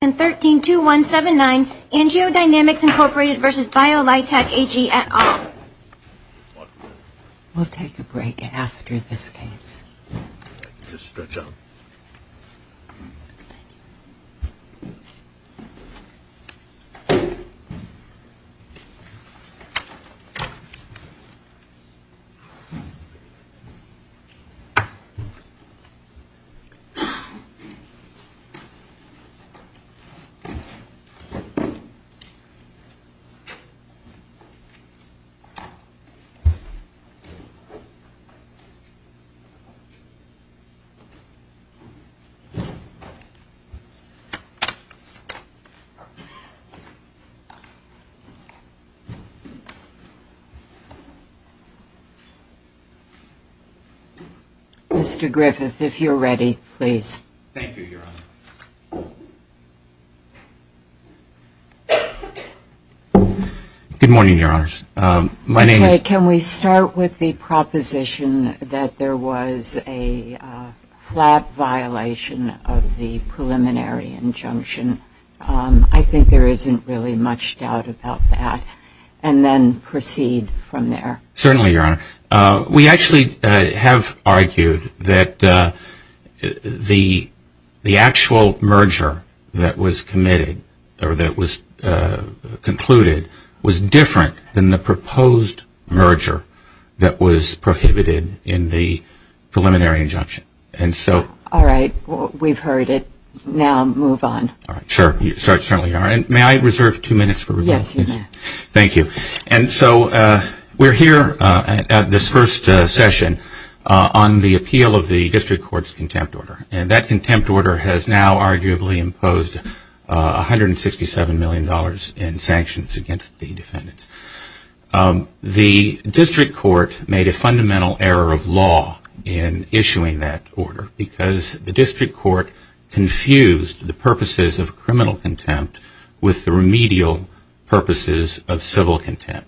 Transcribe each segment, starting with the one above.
132179, AngioDynamics, Inc. v. Biolitec AG, et al. We'll take a break after this case. Mr. Griffith, if you're ready, please. Thank you, Your Honor. Good morning, Your Honors. My name is- Okay, can we start with the proposition that there was a flat violation of the preliminary injunction? I think there isn't really much doubt about that, and then proceed from there. Certainly, Your Honor. We actually have argued that the actual merger that was committed, or that was concluded, was different than the proposed merger that was prohibited in the preliminary injunction. All right, we've heard it. Now move on. Sure, you certainly are. May I reserve two minutes for rebuttal? Yes, you may. Thank you. And so we're here at this first session on the appeal of the District Court's contempt order. And that contempt order has now arguably imposed $167 million in sanctions against the defendants. The District Court made a fundamental error of law in issuing that order because the District Court confused the purposes of criminal contempt with the remedial purposes of civil contempt.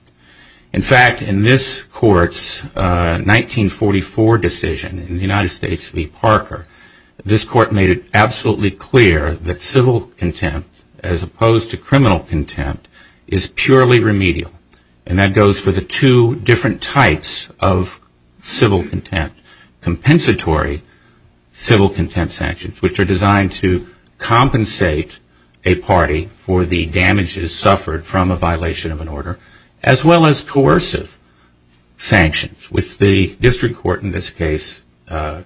In fact, in this Court's 1944 decision in the United States v. Parker, this Court made it absolutely clear that civil contempt, as opposed to criminal contempt, is purely remedial. And that goes for the two different types of civil contempt. Compensatory civil contempt sanctions, which are designed to compensate a party for the damages suffered from a violation of an order, as well as coercive sanctions, which the District Court, in this case,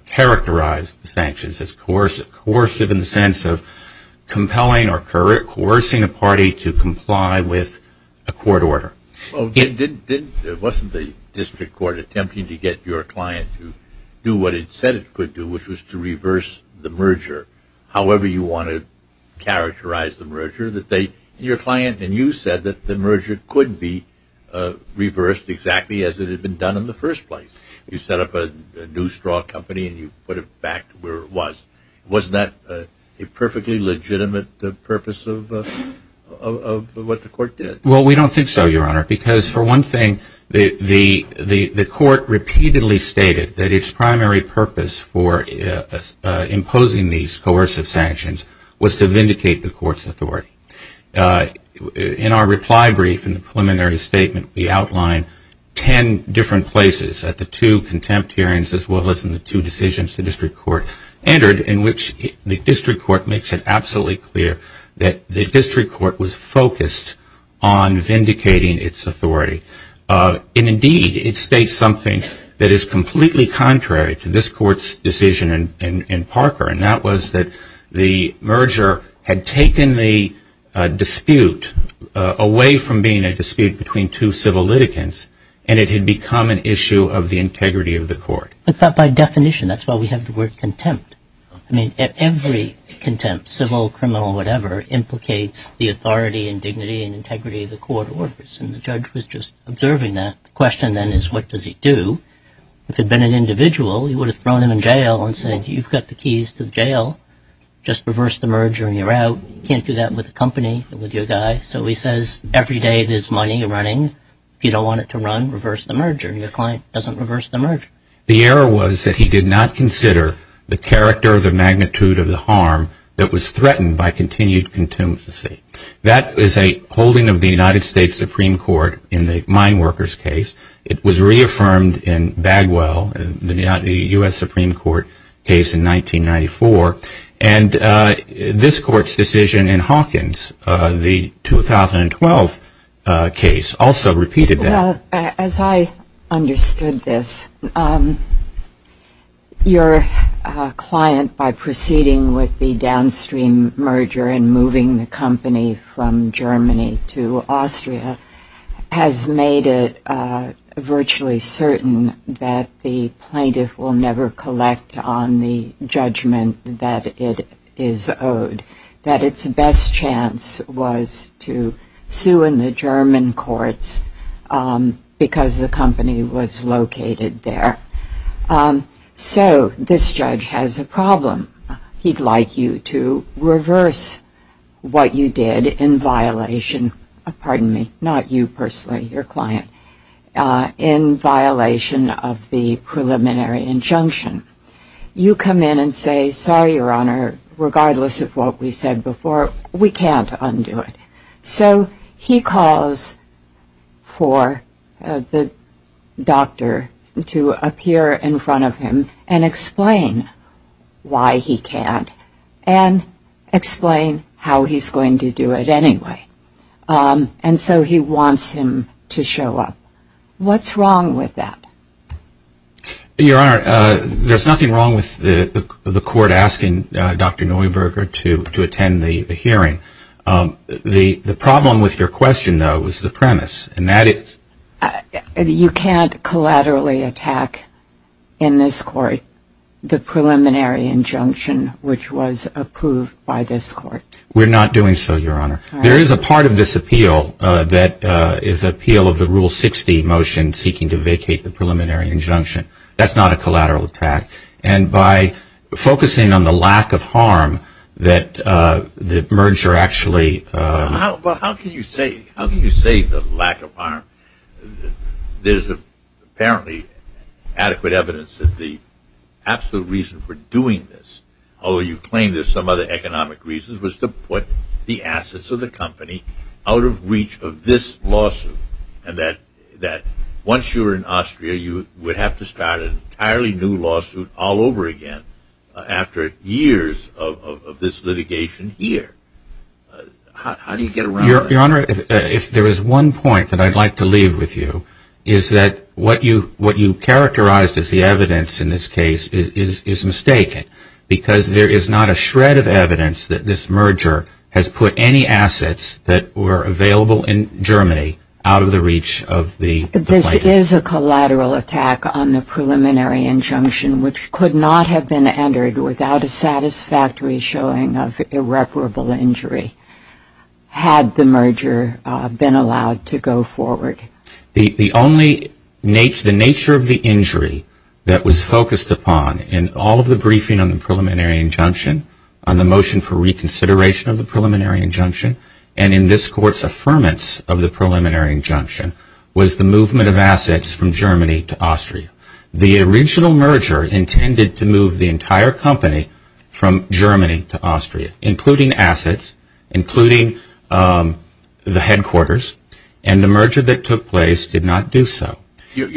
characterized the sanctions as coercive, coercive in the sense of compelling or coercing a party to comply with a court order. Well, wasn't the District Court attempting to get your client to do what it said it could do, which was to reverse the merger, however you want to characterize the merger? Your client and you said that the merger could be reversed exactly as it had been done in the first place. You set up a new straw company and you put it back to where it was. Wasn't that a perfectly legitimate purpose of what the Court did? Well, we don't think so, Your Honor, because for one thing, the Court repeatedly stated that its primary purpose for imposing these coercive sanctions was to vindicate the Court's authority. In our reply brief in the preliminary statement, we outlined ten different places at the two contempt hearings, as well as in the two decisions the District Court entered, in which the District Court makes it absolutely clear that the District Court was focused on vindicating its authority. And indeed, it states something that is completely contrary to this Court's decision in Parker, and that was that the merger had taken the dispute away from being a dispute between two civil litigants and it had become an issue of the integrity of the Court. But by definition, that's why we have the word contempt. I mean, every contempt, civil, criminal, whatever, implicates the authority and dignity and integrity of the Court orders, and the judge was just observing that. The question then is, what does he do? If it had been an individual, he would have thrown him in jail and said, I am the director of the magnitude of the harm that was threatened by continued contempt. That is a holding of the United States Supreme Court in the Mine Workers case. It was reaffirmed in Bagwell, the U.S. Supreme Court case in 1994. And this Court's decision in Hawkins, the 2012 case, also repeated that. Well, as I understood this, your client, by proceeding with the downstream merger and moving the company from Germany to Austria, has made it virtually certain that the plaintiff will never collect on the judgment that it is owed, that its best chance was to sue in the German courts because the company was located there. So this judge has a problem. He'd like you to reverse what you did in violation, pardon me, not you personally, your client, in violation of the preliminary injunction. You come in and say, sorry, Your Honor, regardless of what we said before, we can't undo it. You appear in front of him and explain why he can't and explain how he's going to do it anyway. And so he wants him to show up. What's wrong with that? Your Honor, there's nothing wrong with the Court asking Dr. Neuberger to attend the hearing. The problem with your question, though, is the premise, and that is... You can't collaterally attack in this Court the preliminary injunction which was approved by this Court. We're not doing so, Your Honor. There is a part of this appeal that is appeal of the Rule 60 motion seeking to vacate the preliminary injunction. That's not a collateral attack. And by focusing on the lack of harm that the merger actually... Well, how can you say the lack of harm? There's apparently adequate evidence that the absolute reason for doing this, although you claim there's some other economic reasons, was to put the assets of the company out of reach of this lawsuit. And that once you were in Austria, you would have to start an entirely new lawsuit all over again after years of this litigation here. How do you get around that? Your Honor, if there is one point that I'd like to leave with you, is that what you characterized as the evidence in this case is mistaken. Because there is not a shred of evidence that this merger has put any assets that were available in Germany out of the reach of the plaintiff. This is a collateral attack on the preliminary injunction which could not have been entered without a satisfactory showing of irreparable injury had the merger been allowed to go forward. The only... the nature of the injury that was focused upon in all of the briefing on the preliminary injunction, on the motion for reconsideration of the preliminary injunction, and in this Court's affirmance of the preliminary injunction, was the movement of assets from Germany to Austria. The original merger intended to move the entire company from Germany to Austria, including assets, including the headquarters, and the merger that took place did not do so. We'd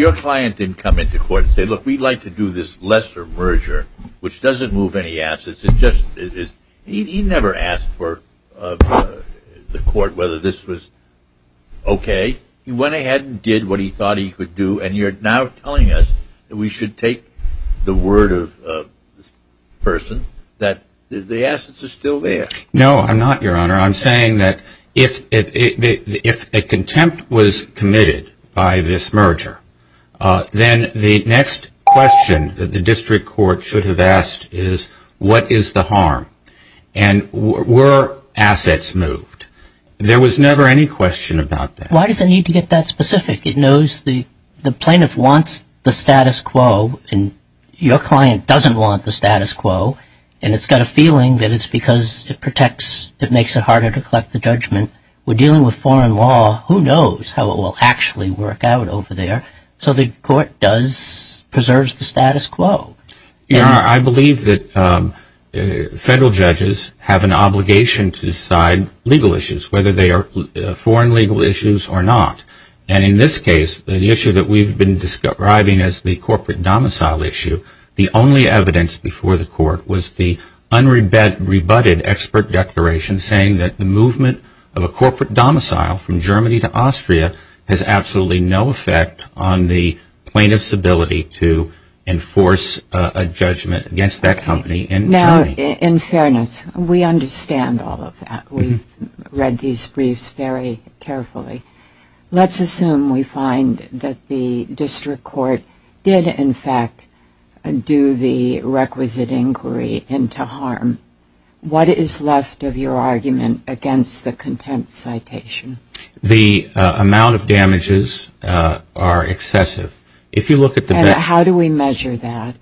like to do this lesser merger, which doesn't move any assets. He never asked the Court whether this was okay. He went ahead and did what he thought he could do, and you're now telling us that we should take the word of this person that the assets are still there. No, I'm not, Your Honor. I'm saying that if a contempt was committed by this merger, then the next question that the District Court should have asked is, what is the harm, and were assets moved? There was never any question about that. Why does it need to get that specific? The plaintiff wants the status quo, and your client doesn't want the status quo, and it's got a feeling that it's because it makes it harder to collect the judgment. We're dealing with foreign law. Who knows how it will actually work out over there? So the Court preserves the status quo. Your Honor, I believe that federal judges have an obligation to decide legal issues, whether they are foreign legal issues or not, and in this case, the issue that we've been describing as the corporate domicile issue, the only evidence before the Court was the unrebutted expert declaration saying that the movement of a corporate domicile from Germany to Austria has absolutely no effect on the plaintiff's ability to enforce a judgment against that company in Germany. Now, in fairness, we understand all of that. We've read these briefs very carefully. Let's assume we find that the district court did, in fact, do the requisite inquiry into harm. What is left of your argument against the contempt citation? The amount of damages are excessive. And how do we measure that?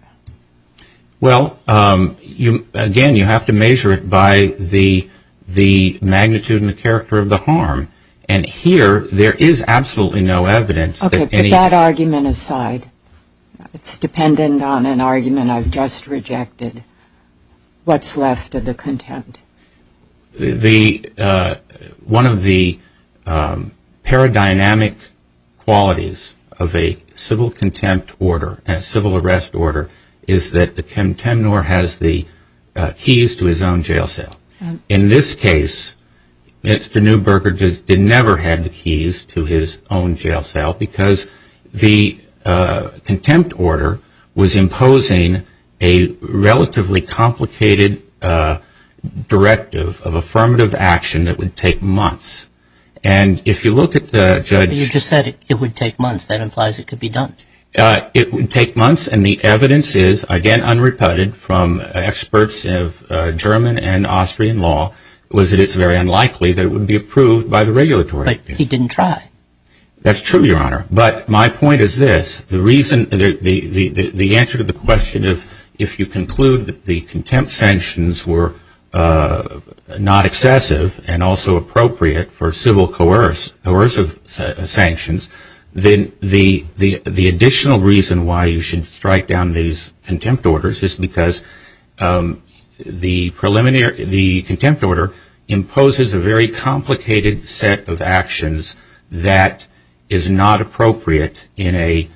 Well, again, you have to measure it by the magnitude and the character of the harm. And here, there is absolutely no evidence that any... Okay, but that argument aside, it's dependent on an argument I've just rejected. What's left of the contempt? One of the paradynamic qualities of a civil contempt order, a civil arrest order, is that the contemnor has the keys to his own jail cell. In this case, Mr. Neuberger did never have the keys to his own jail cell, because the contempt order was imposing a relatively complicated directive of affirmative action that would take months. And if you look at the judge... But he didn't try. That's true, Your Honor. But my point is this. The answer to the question of if you conclude that the contempt sanctions were not excessive and also appropriate for civil coercive sanctions, then the additional reason why you should strike down these contempt orders is because the contempt order imposes a very complicated set of actions that is not appropriate in a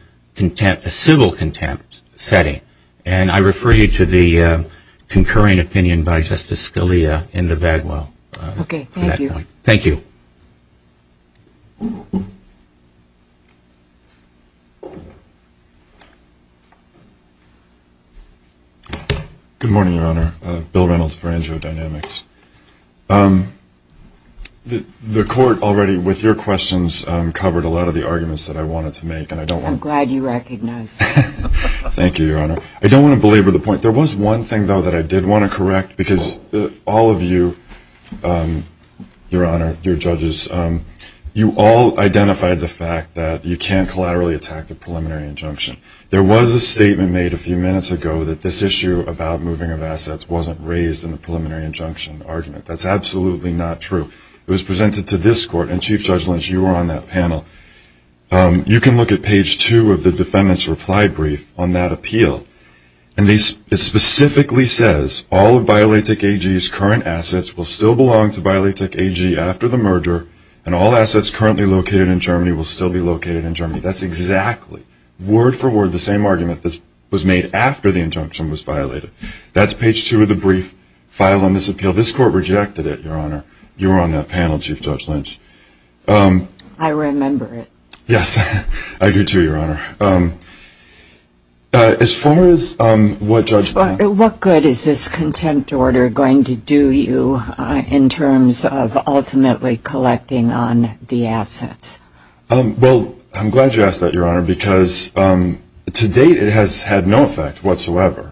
civil contempt setting. And I refer you to the concurring opinion by Justice Scalia in the Bagwell. Thank you. Good morning, Your Honor. Bill Reynolds for AngioDynamics. The Court already, with your questions, covered a lot of the arguments that I wanted to make. And I don't want to belabor the point. There was one thing, though, that I did want to correct, because all of you, Your Honor, your judges, you all identified the fact that you can't collaterally attack the preliminary injunction. There was a statement made a few minutes ago that this issue about moving of assets wasn't raised in the preliminary injunction argument. That's absolutely not true. It was presented to this Court. And, Chief Judge Lynch, you were on that panel. You can look at page 2 of the defendant's reply brief on that appeal. And it specifically says, all of Violatec AG's current assets will still belong to Violatec AG after the merger, and all assets currently located in Germany will still be located in Germany. That's exactly, word for word, the same argument that was made after the injunction was violated. That's page 2 of the brief, file on this appeal. This Court rejected it, Your Honor. You were on that panel, Chief Judge Lynch. I remember it. Yes, I do too, Your Honor. What good is this contempt order going to do you in terms of ultimately collecting on the assets? Well, I'm glad you asked that, Your Honor, because to date it has had no effect whatsoever.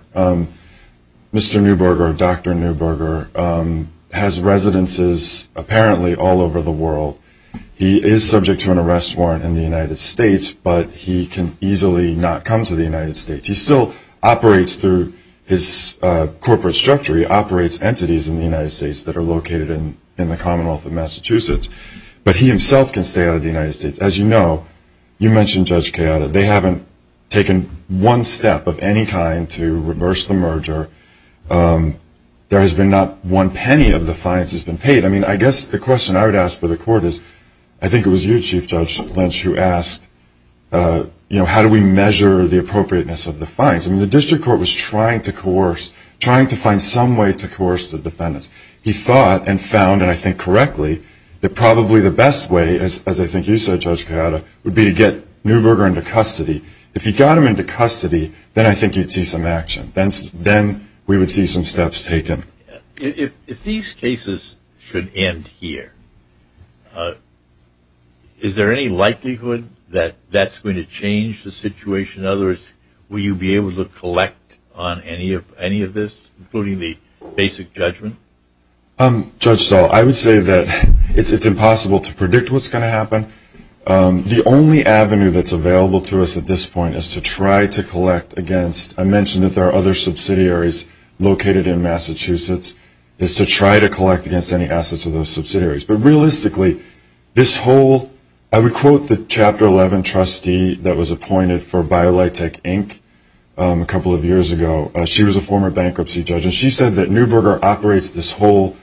Mr. Neuberger, or Dr. Neuberger, has residences apparently all over the world. He is subject to an arrest warrant in the United States, but he can easily not come to the United States. He still operates through his corporate structure. He operates entities in the United States that are located in the Commonwealth of Massachusetts. But he himself can stay out of the United States. As you know, you mentioned Judge Keada. They haven't taken one step of any kind to reverse the merger. There has been not one penny of the fines that's been paid. I mean, I guess the question I would ask for the Court is, I think it was you, Chief Judge Lynch, who asked, you know, how do we measure the appropriateness of the fines? I mean, the District Court was trying to coerce, trying to find some way to coerce the defendants. He thought and found, and I think correctly, that probably the best way, as I think you said, Judge Keada, would be to get Neuberger into custody. If he got him into custody, then I think you'd see some action. Then we would see some steps taken. If these cases should end here, is there any likelihood that that's going to change the situation? In other words, will you be able to collect on any of this, including the basic judgment? Judge Stahl, I would say that it's impossible to predict what's going to happen. The only avenue that's available to us at this point is to try to collect against. I mentioned that there are other subsidiaries located in Massachusetts. It's to try to collect against any assets of those subsidiaries. But realistically, this whole, I would quote the Chapter 11 trustee that was appointed for BioLitech, Inc. a couple of years ago. She was a former bankruptcy judge, and she said that Neuberger operates this whole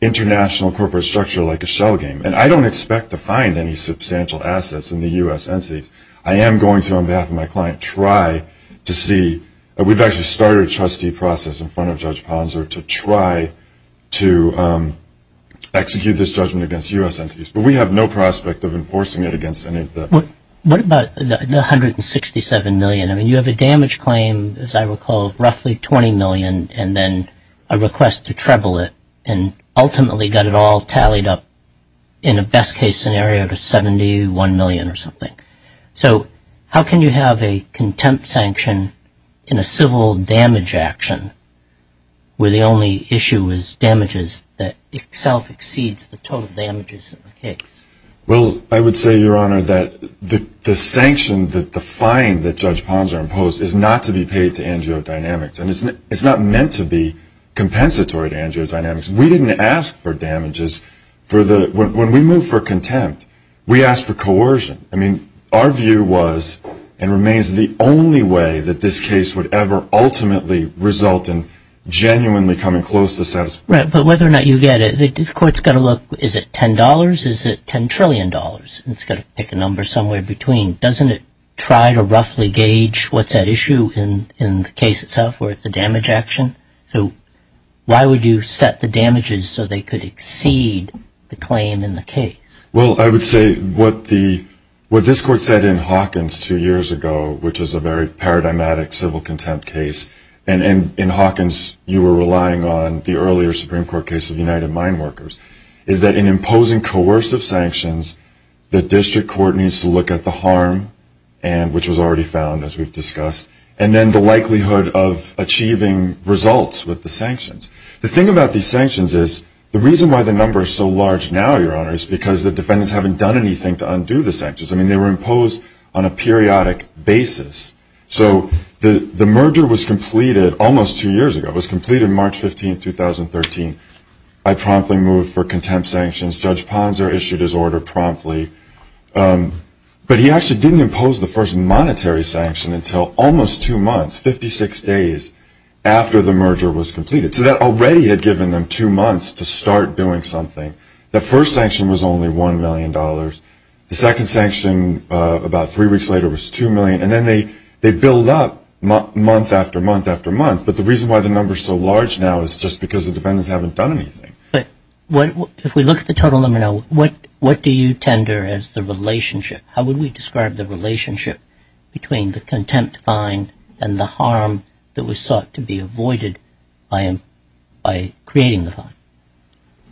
international corporate structure like a shell game. And I don't expect to find any substantial assets in the U.S. entities. I am going to, on behalf of my client, try to see. We've actually started a trustee process in front of Judge Ponser to try to execute this judgment against U.S. entities. But we have no prospect of enforcing it against any of them. What about the $167 million? I mean, you have a damage claim, as I recall, roughly $20 million, and then a request to treble it, and ultimately got it all tallied up in a best-case scenario to $71 million or something. So how can you have a contempt sanction in a civil damage action where the only issue is damages that itself exceeds the total damages of the case? Well, I would say, Your Honor, that the sanction, the fine that Judge Ponser imposed is not to be paid to AngioDynamics. And it's not meant to be compensatory to AngioDynamics. We didn't ask for damages. When we move for contempt, we ask for coercion. I mean, our view was and remains the only way that this case would ever ultimately result in genuinely coming close to satisfaction. Right. But whether or not you get it, the Court's got to look, is it $10? Is it $10 trillion? It's got to pick a number somewhere between. Doesn't it try to roughly gauge what's at issue in the case itself where it's a damage action? So why would you set the damages so they could exceed the claim in the case? Well, I would say what this Court said in Hawkins two years ago, which is a very paradigmatic civil contempt case, and in Hawkins you were relying on the earlier Supreme Court case of United Mine Workers, is that in imposing coercive sanctions, the district court needs to look at the harm, which was already found, as we've discussed, and then the likelihood of achieving results with the sanctions. The thing about these sanctions is the reason why the number is so large now, Your Honor, is because the defendants haven't done anything to undo the sanctions. I mean, they were imposed on a periodic basis. So the merger was completed almost two years ago. It was completed March 15, 2013. I promptly moved for contempt sanctions. Judge Ponser issued his order promptly. But he actually didn't impose the first monetary sanction until almost two months, 56 days, after the merger was completed. So that already had given them two months to start doing something. That first sanction was only $1 million. The second sanction about three weeks later was $2 million. And then they build up month after month after month. But the reason why the number is so large now is just because the defendants haven't done anything. But if we look at the total number now, what do you tender as the relationship? How would we describe the relationship between the contempt fine and the harm that was sought to be avoided by creating the fine?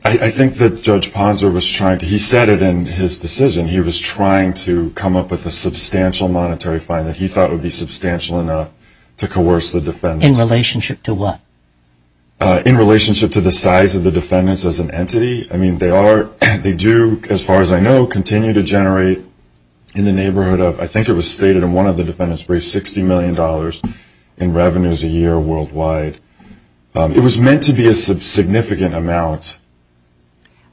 I think that Judge Ponser was trying to, he said it in his decision, he was trying to come up with a substantial monetary fine that he thought would be substantial enough to coerce the defendants. In relationship to what? In relationship to the size of the defendants as an entity. I mean, they do, as far as I know, continue to generate in the neighborhood of, I think it was stated in one of the defendants briefs, $260 million in revenues a year worldwide. It was meant to be a significant amount.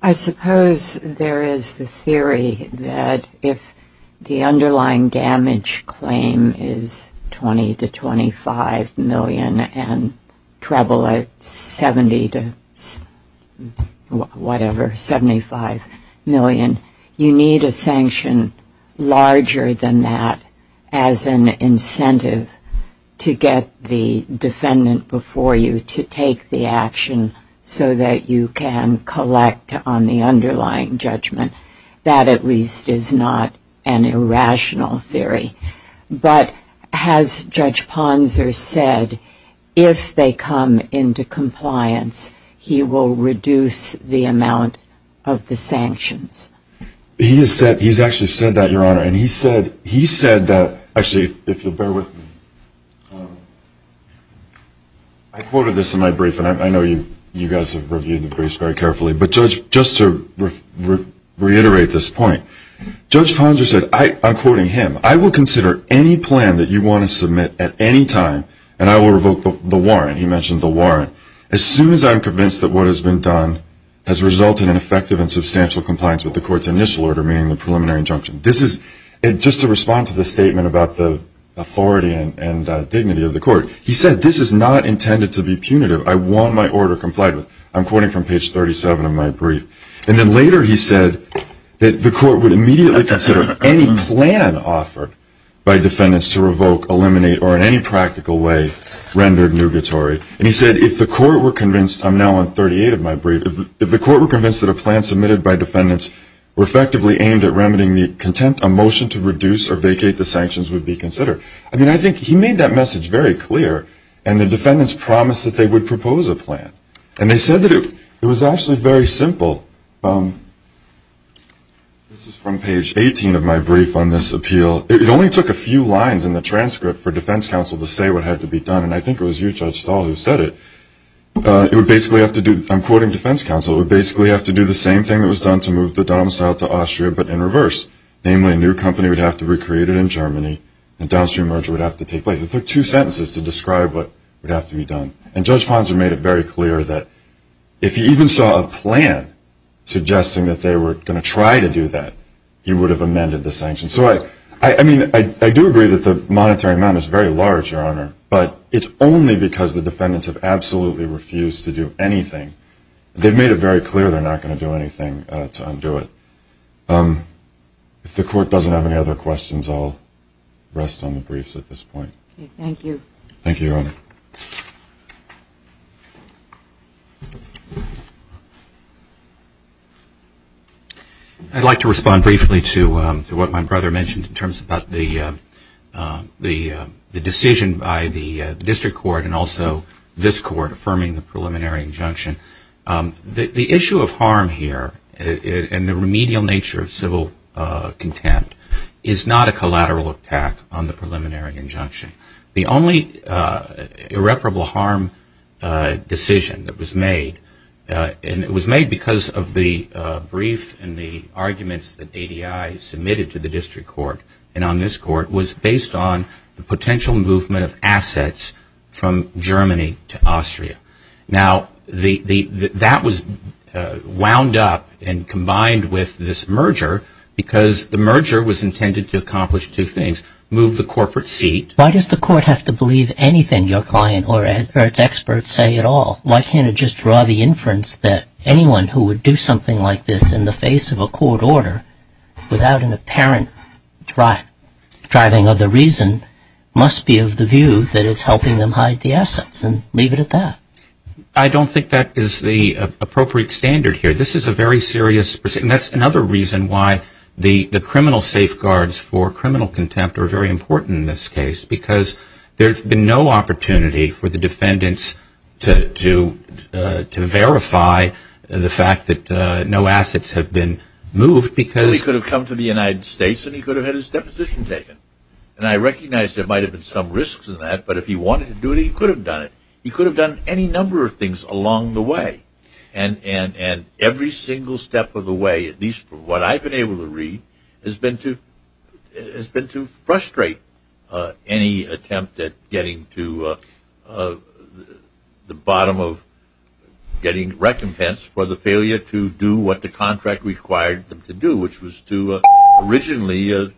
I suppose there is the theory that if the underlying damage claim is $20 to $25 million and treble it $70 to whatever, $75 million, you need a sanction larger than that as an incentive to get the defendant before you to take the action so that you can collect on the underlying judgment. That at least is not an irrational theory. But as Judge Ponser said, if they come into compliance, he will reduce the amount of the sanctions. He's actually said that, Your Honor, and he said that, actually, if you'll bear with me, I quoted this in my brief, and I know you guys have reviewed the briefs very carefully, but just to reiterate this point, Judge Ponser said, I'm quoting him, I will consider any plan that you want to submit at any time, and I will revoke the warrant. He mentioned the warrant. As soon as I'm convinced that what has been done has resulted in effective and substantial compliance with the court's initial order, meaning the preliminary injunction. This is just to respond to the statement about the authority and dignity of the court. He said, this is not intended to be punitive. I want my order complied with. I'm quoting from page 37 of my brief. And then later he said that the court would immediately consider any plan offered by defendants to revoke, eliminate, or in any practical way rendered nugatory. And he said, if the court were convinced, I'm now on 38 of my brief, if the court were convinced that a plan submitted by defendants were effectively aimed at remedying the contempt, a motion to reduce or vacate the sanctions would be considered. I mean, I think he made that message very clear, and the defendants promised that they would propose a plan. And they said that it was actually very simple. This is from page 18 of my brief on this appeal. It only took a few lines in the transcript for defense counsel to say what had to be done, and I think it was you, Judge Stahl, who said it. It would basically have to do, I'm quoting defense counsel, it would basically have to do the same thing that was done to move the domicile to Austria, but in reverse. Namely, a new company would have to be recreated in Germany, and a downstream merger would have to take place. It took two sentences to describe what would have to be done. And Judge Ponson made it very clear that if he even saw a plan suggesting that they were going to try to do that, he would have amended the sanctions. So, I mean, I do agree that the monetary amount is very large, Your Honor, but it's only because the defendants have absolutely refused to do anything. They've made it very clear they're not going to do anything to undo it. If the Court doesn't have any other questions, I'll rest on the briefs at this point. Thank you. Thank you, Your Honor. I'd like to respond briefly to what my brother mentioned in terms about the decision by the district court and also this court affirming the preliminary injunction. The issue of harm here and the remedial nature of civil contempt is not a collateral attack on the preliminary injunction. The only irreparable harm decision that was made, and it was made because of the brief and the arguments that ADI submitted to the district court and on this court, was based on the potential movement of assets from Germany to Austria. Now, that was wound up and combined with this merger because the merger was intended to accomplish two things, move the corporate seat. Why does the court have to believe anything your client or its experts say at all? Why can't it just draw the inference that anyone who would do something like this in the face of a court order without an apparent driving of the reason must be of the view that it's helping them hide the assets and leave it at that? I don't think that is the appropriate standard here. And that's another reason why the criminal safeguards for criminal contempt are very important in this case because there's been no opportunity for the defendants to verify the fact that no assets have been moved because Well, he could have come to the United States and he could have had his deposition taken. And I recognize there might have been some risks in that, but if he wanted to do it, he could have done it. He could have done any number of things along the way. And every single step of the way, at least from what I've been able to read, has been to frustrate any attempt at getting to the bottom of getting recompense for the failure to do what the contract required them to do, which was to originally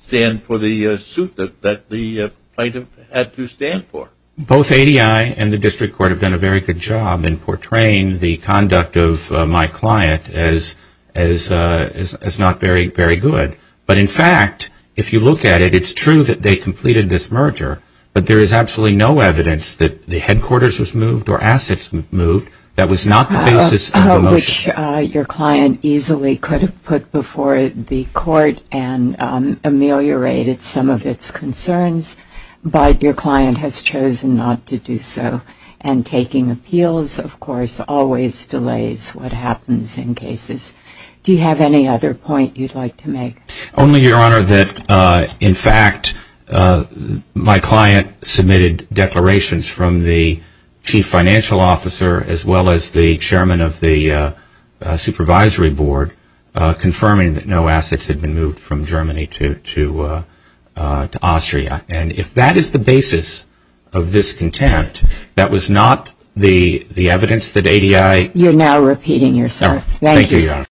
stand for the suit that the plaintiff had to stand for. Both ADI and the district court have done a very good job in portraying the conduct of my client as not very good. But in fact, if you look at it, it's true that they completed this merger, but there is absolutely no evidence that the headquarters was moved or assets moved. That was not the basis of the motion. Which your client easily could have put before the court and ameliorated some of its concerns. But your client has chosen not to do so. And taking appeals, of course, always delays what happens in cases. Do you have any other point you'd like to make? Only, Your Honor, that in fact my client submitted declarations from the chief financial officer as well as the chairman of the supervisory board confirming that no assets had been moved from Germany to Austria. And if that is the basis of this contempt, that was not the evidence that ADI You're now repeating yourself. Thank you, Your Honor.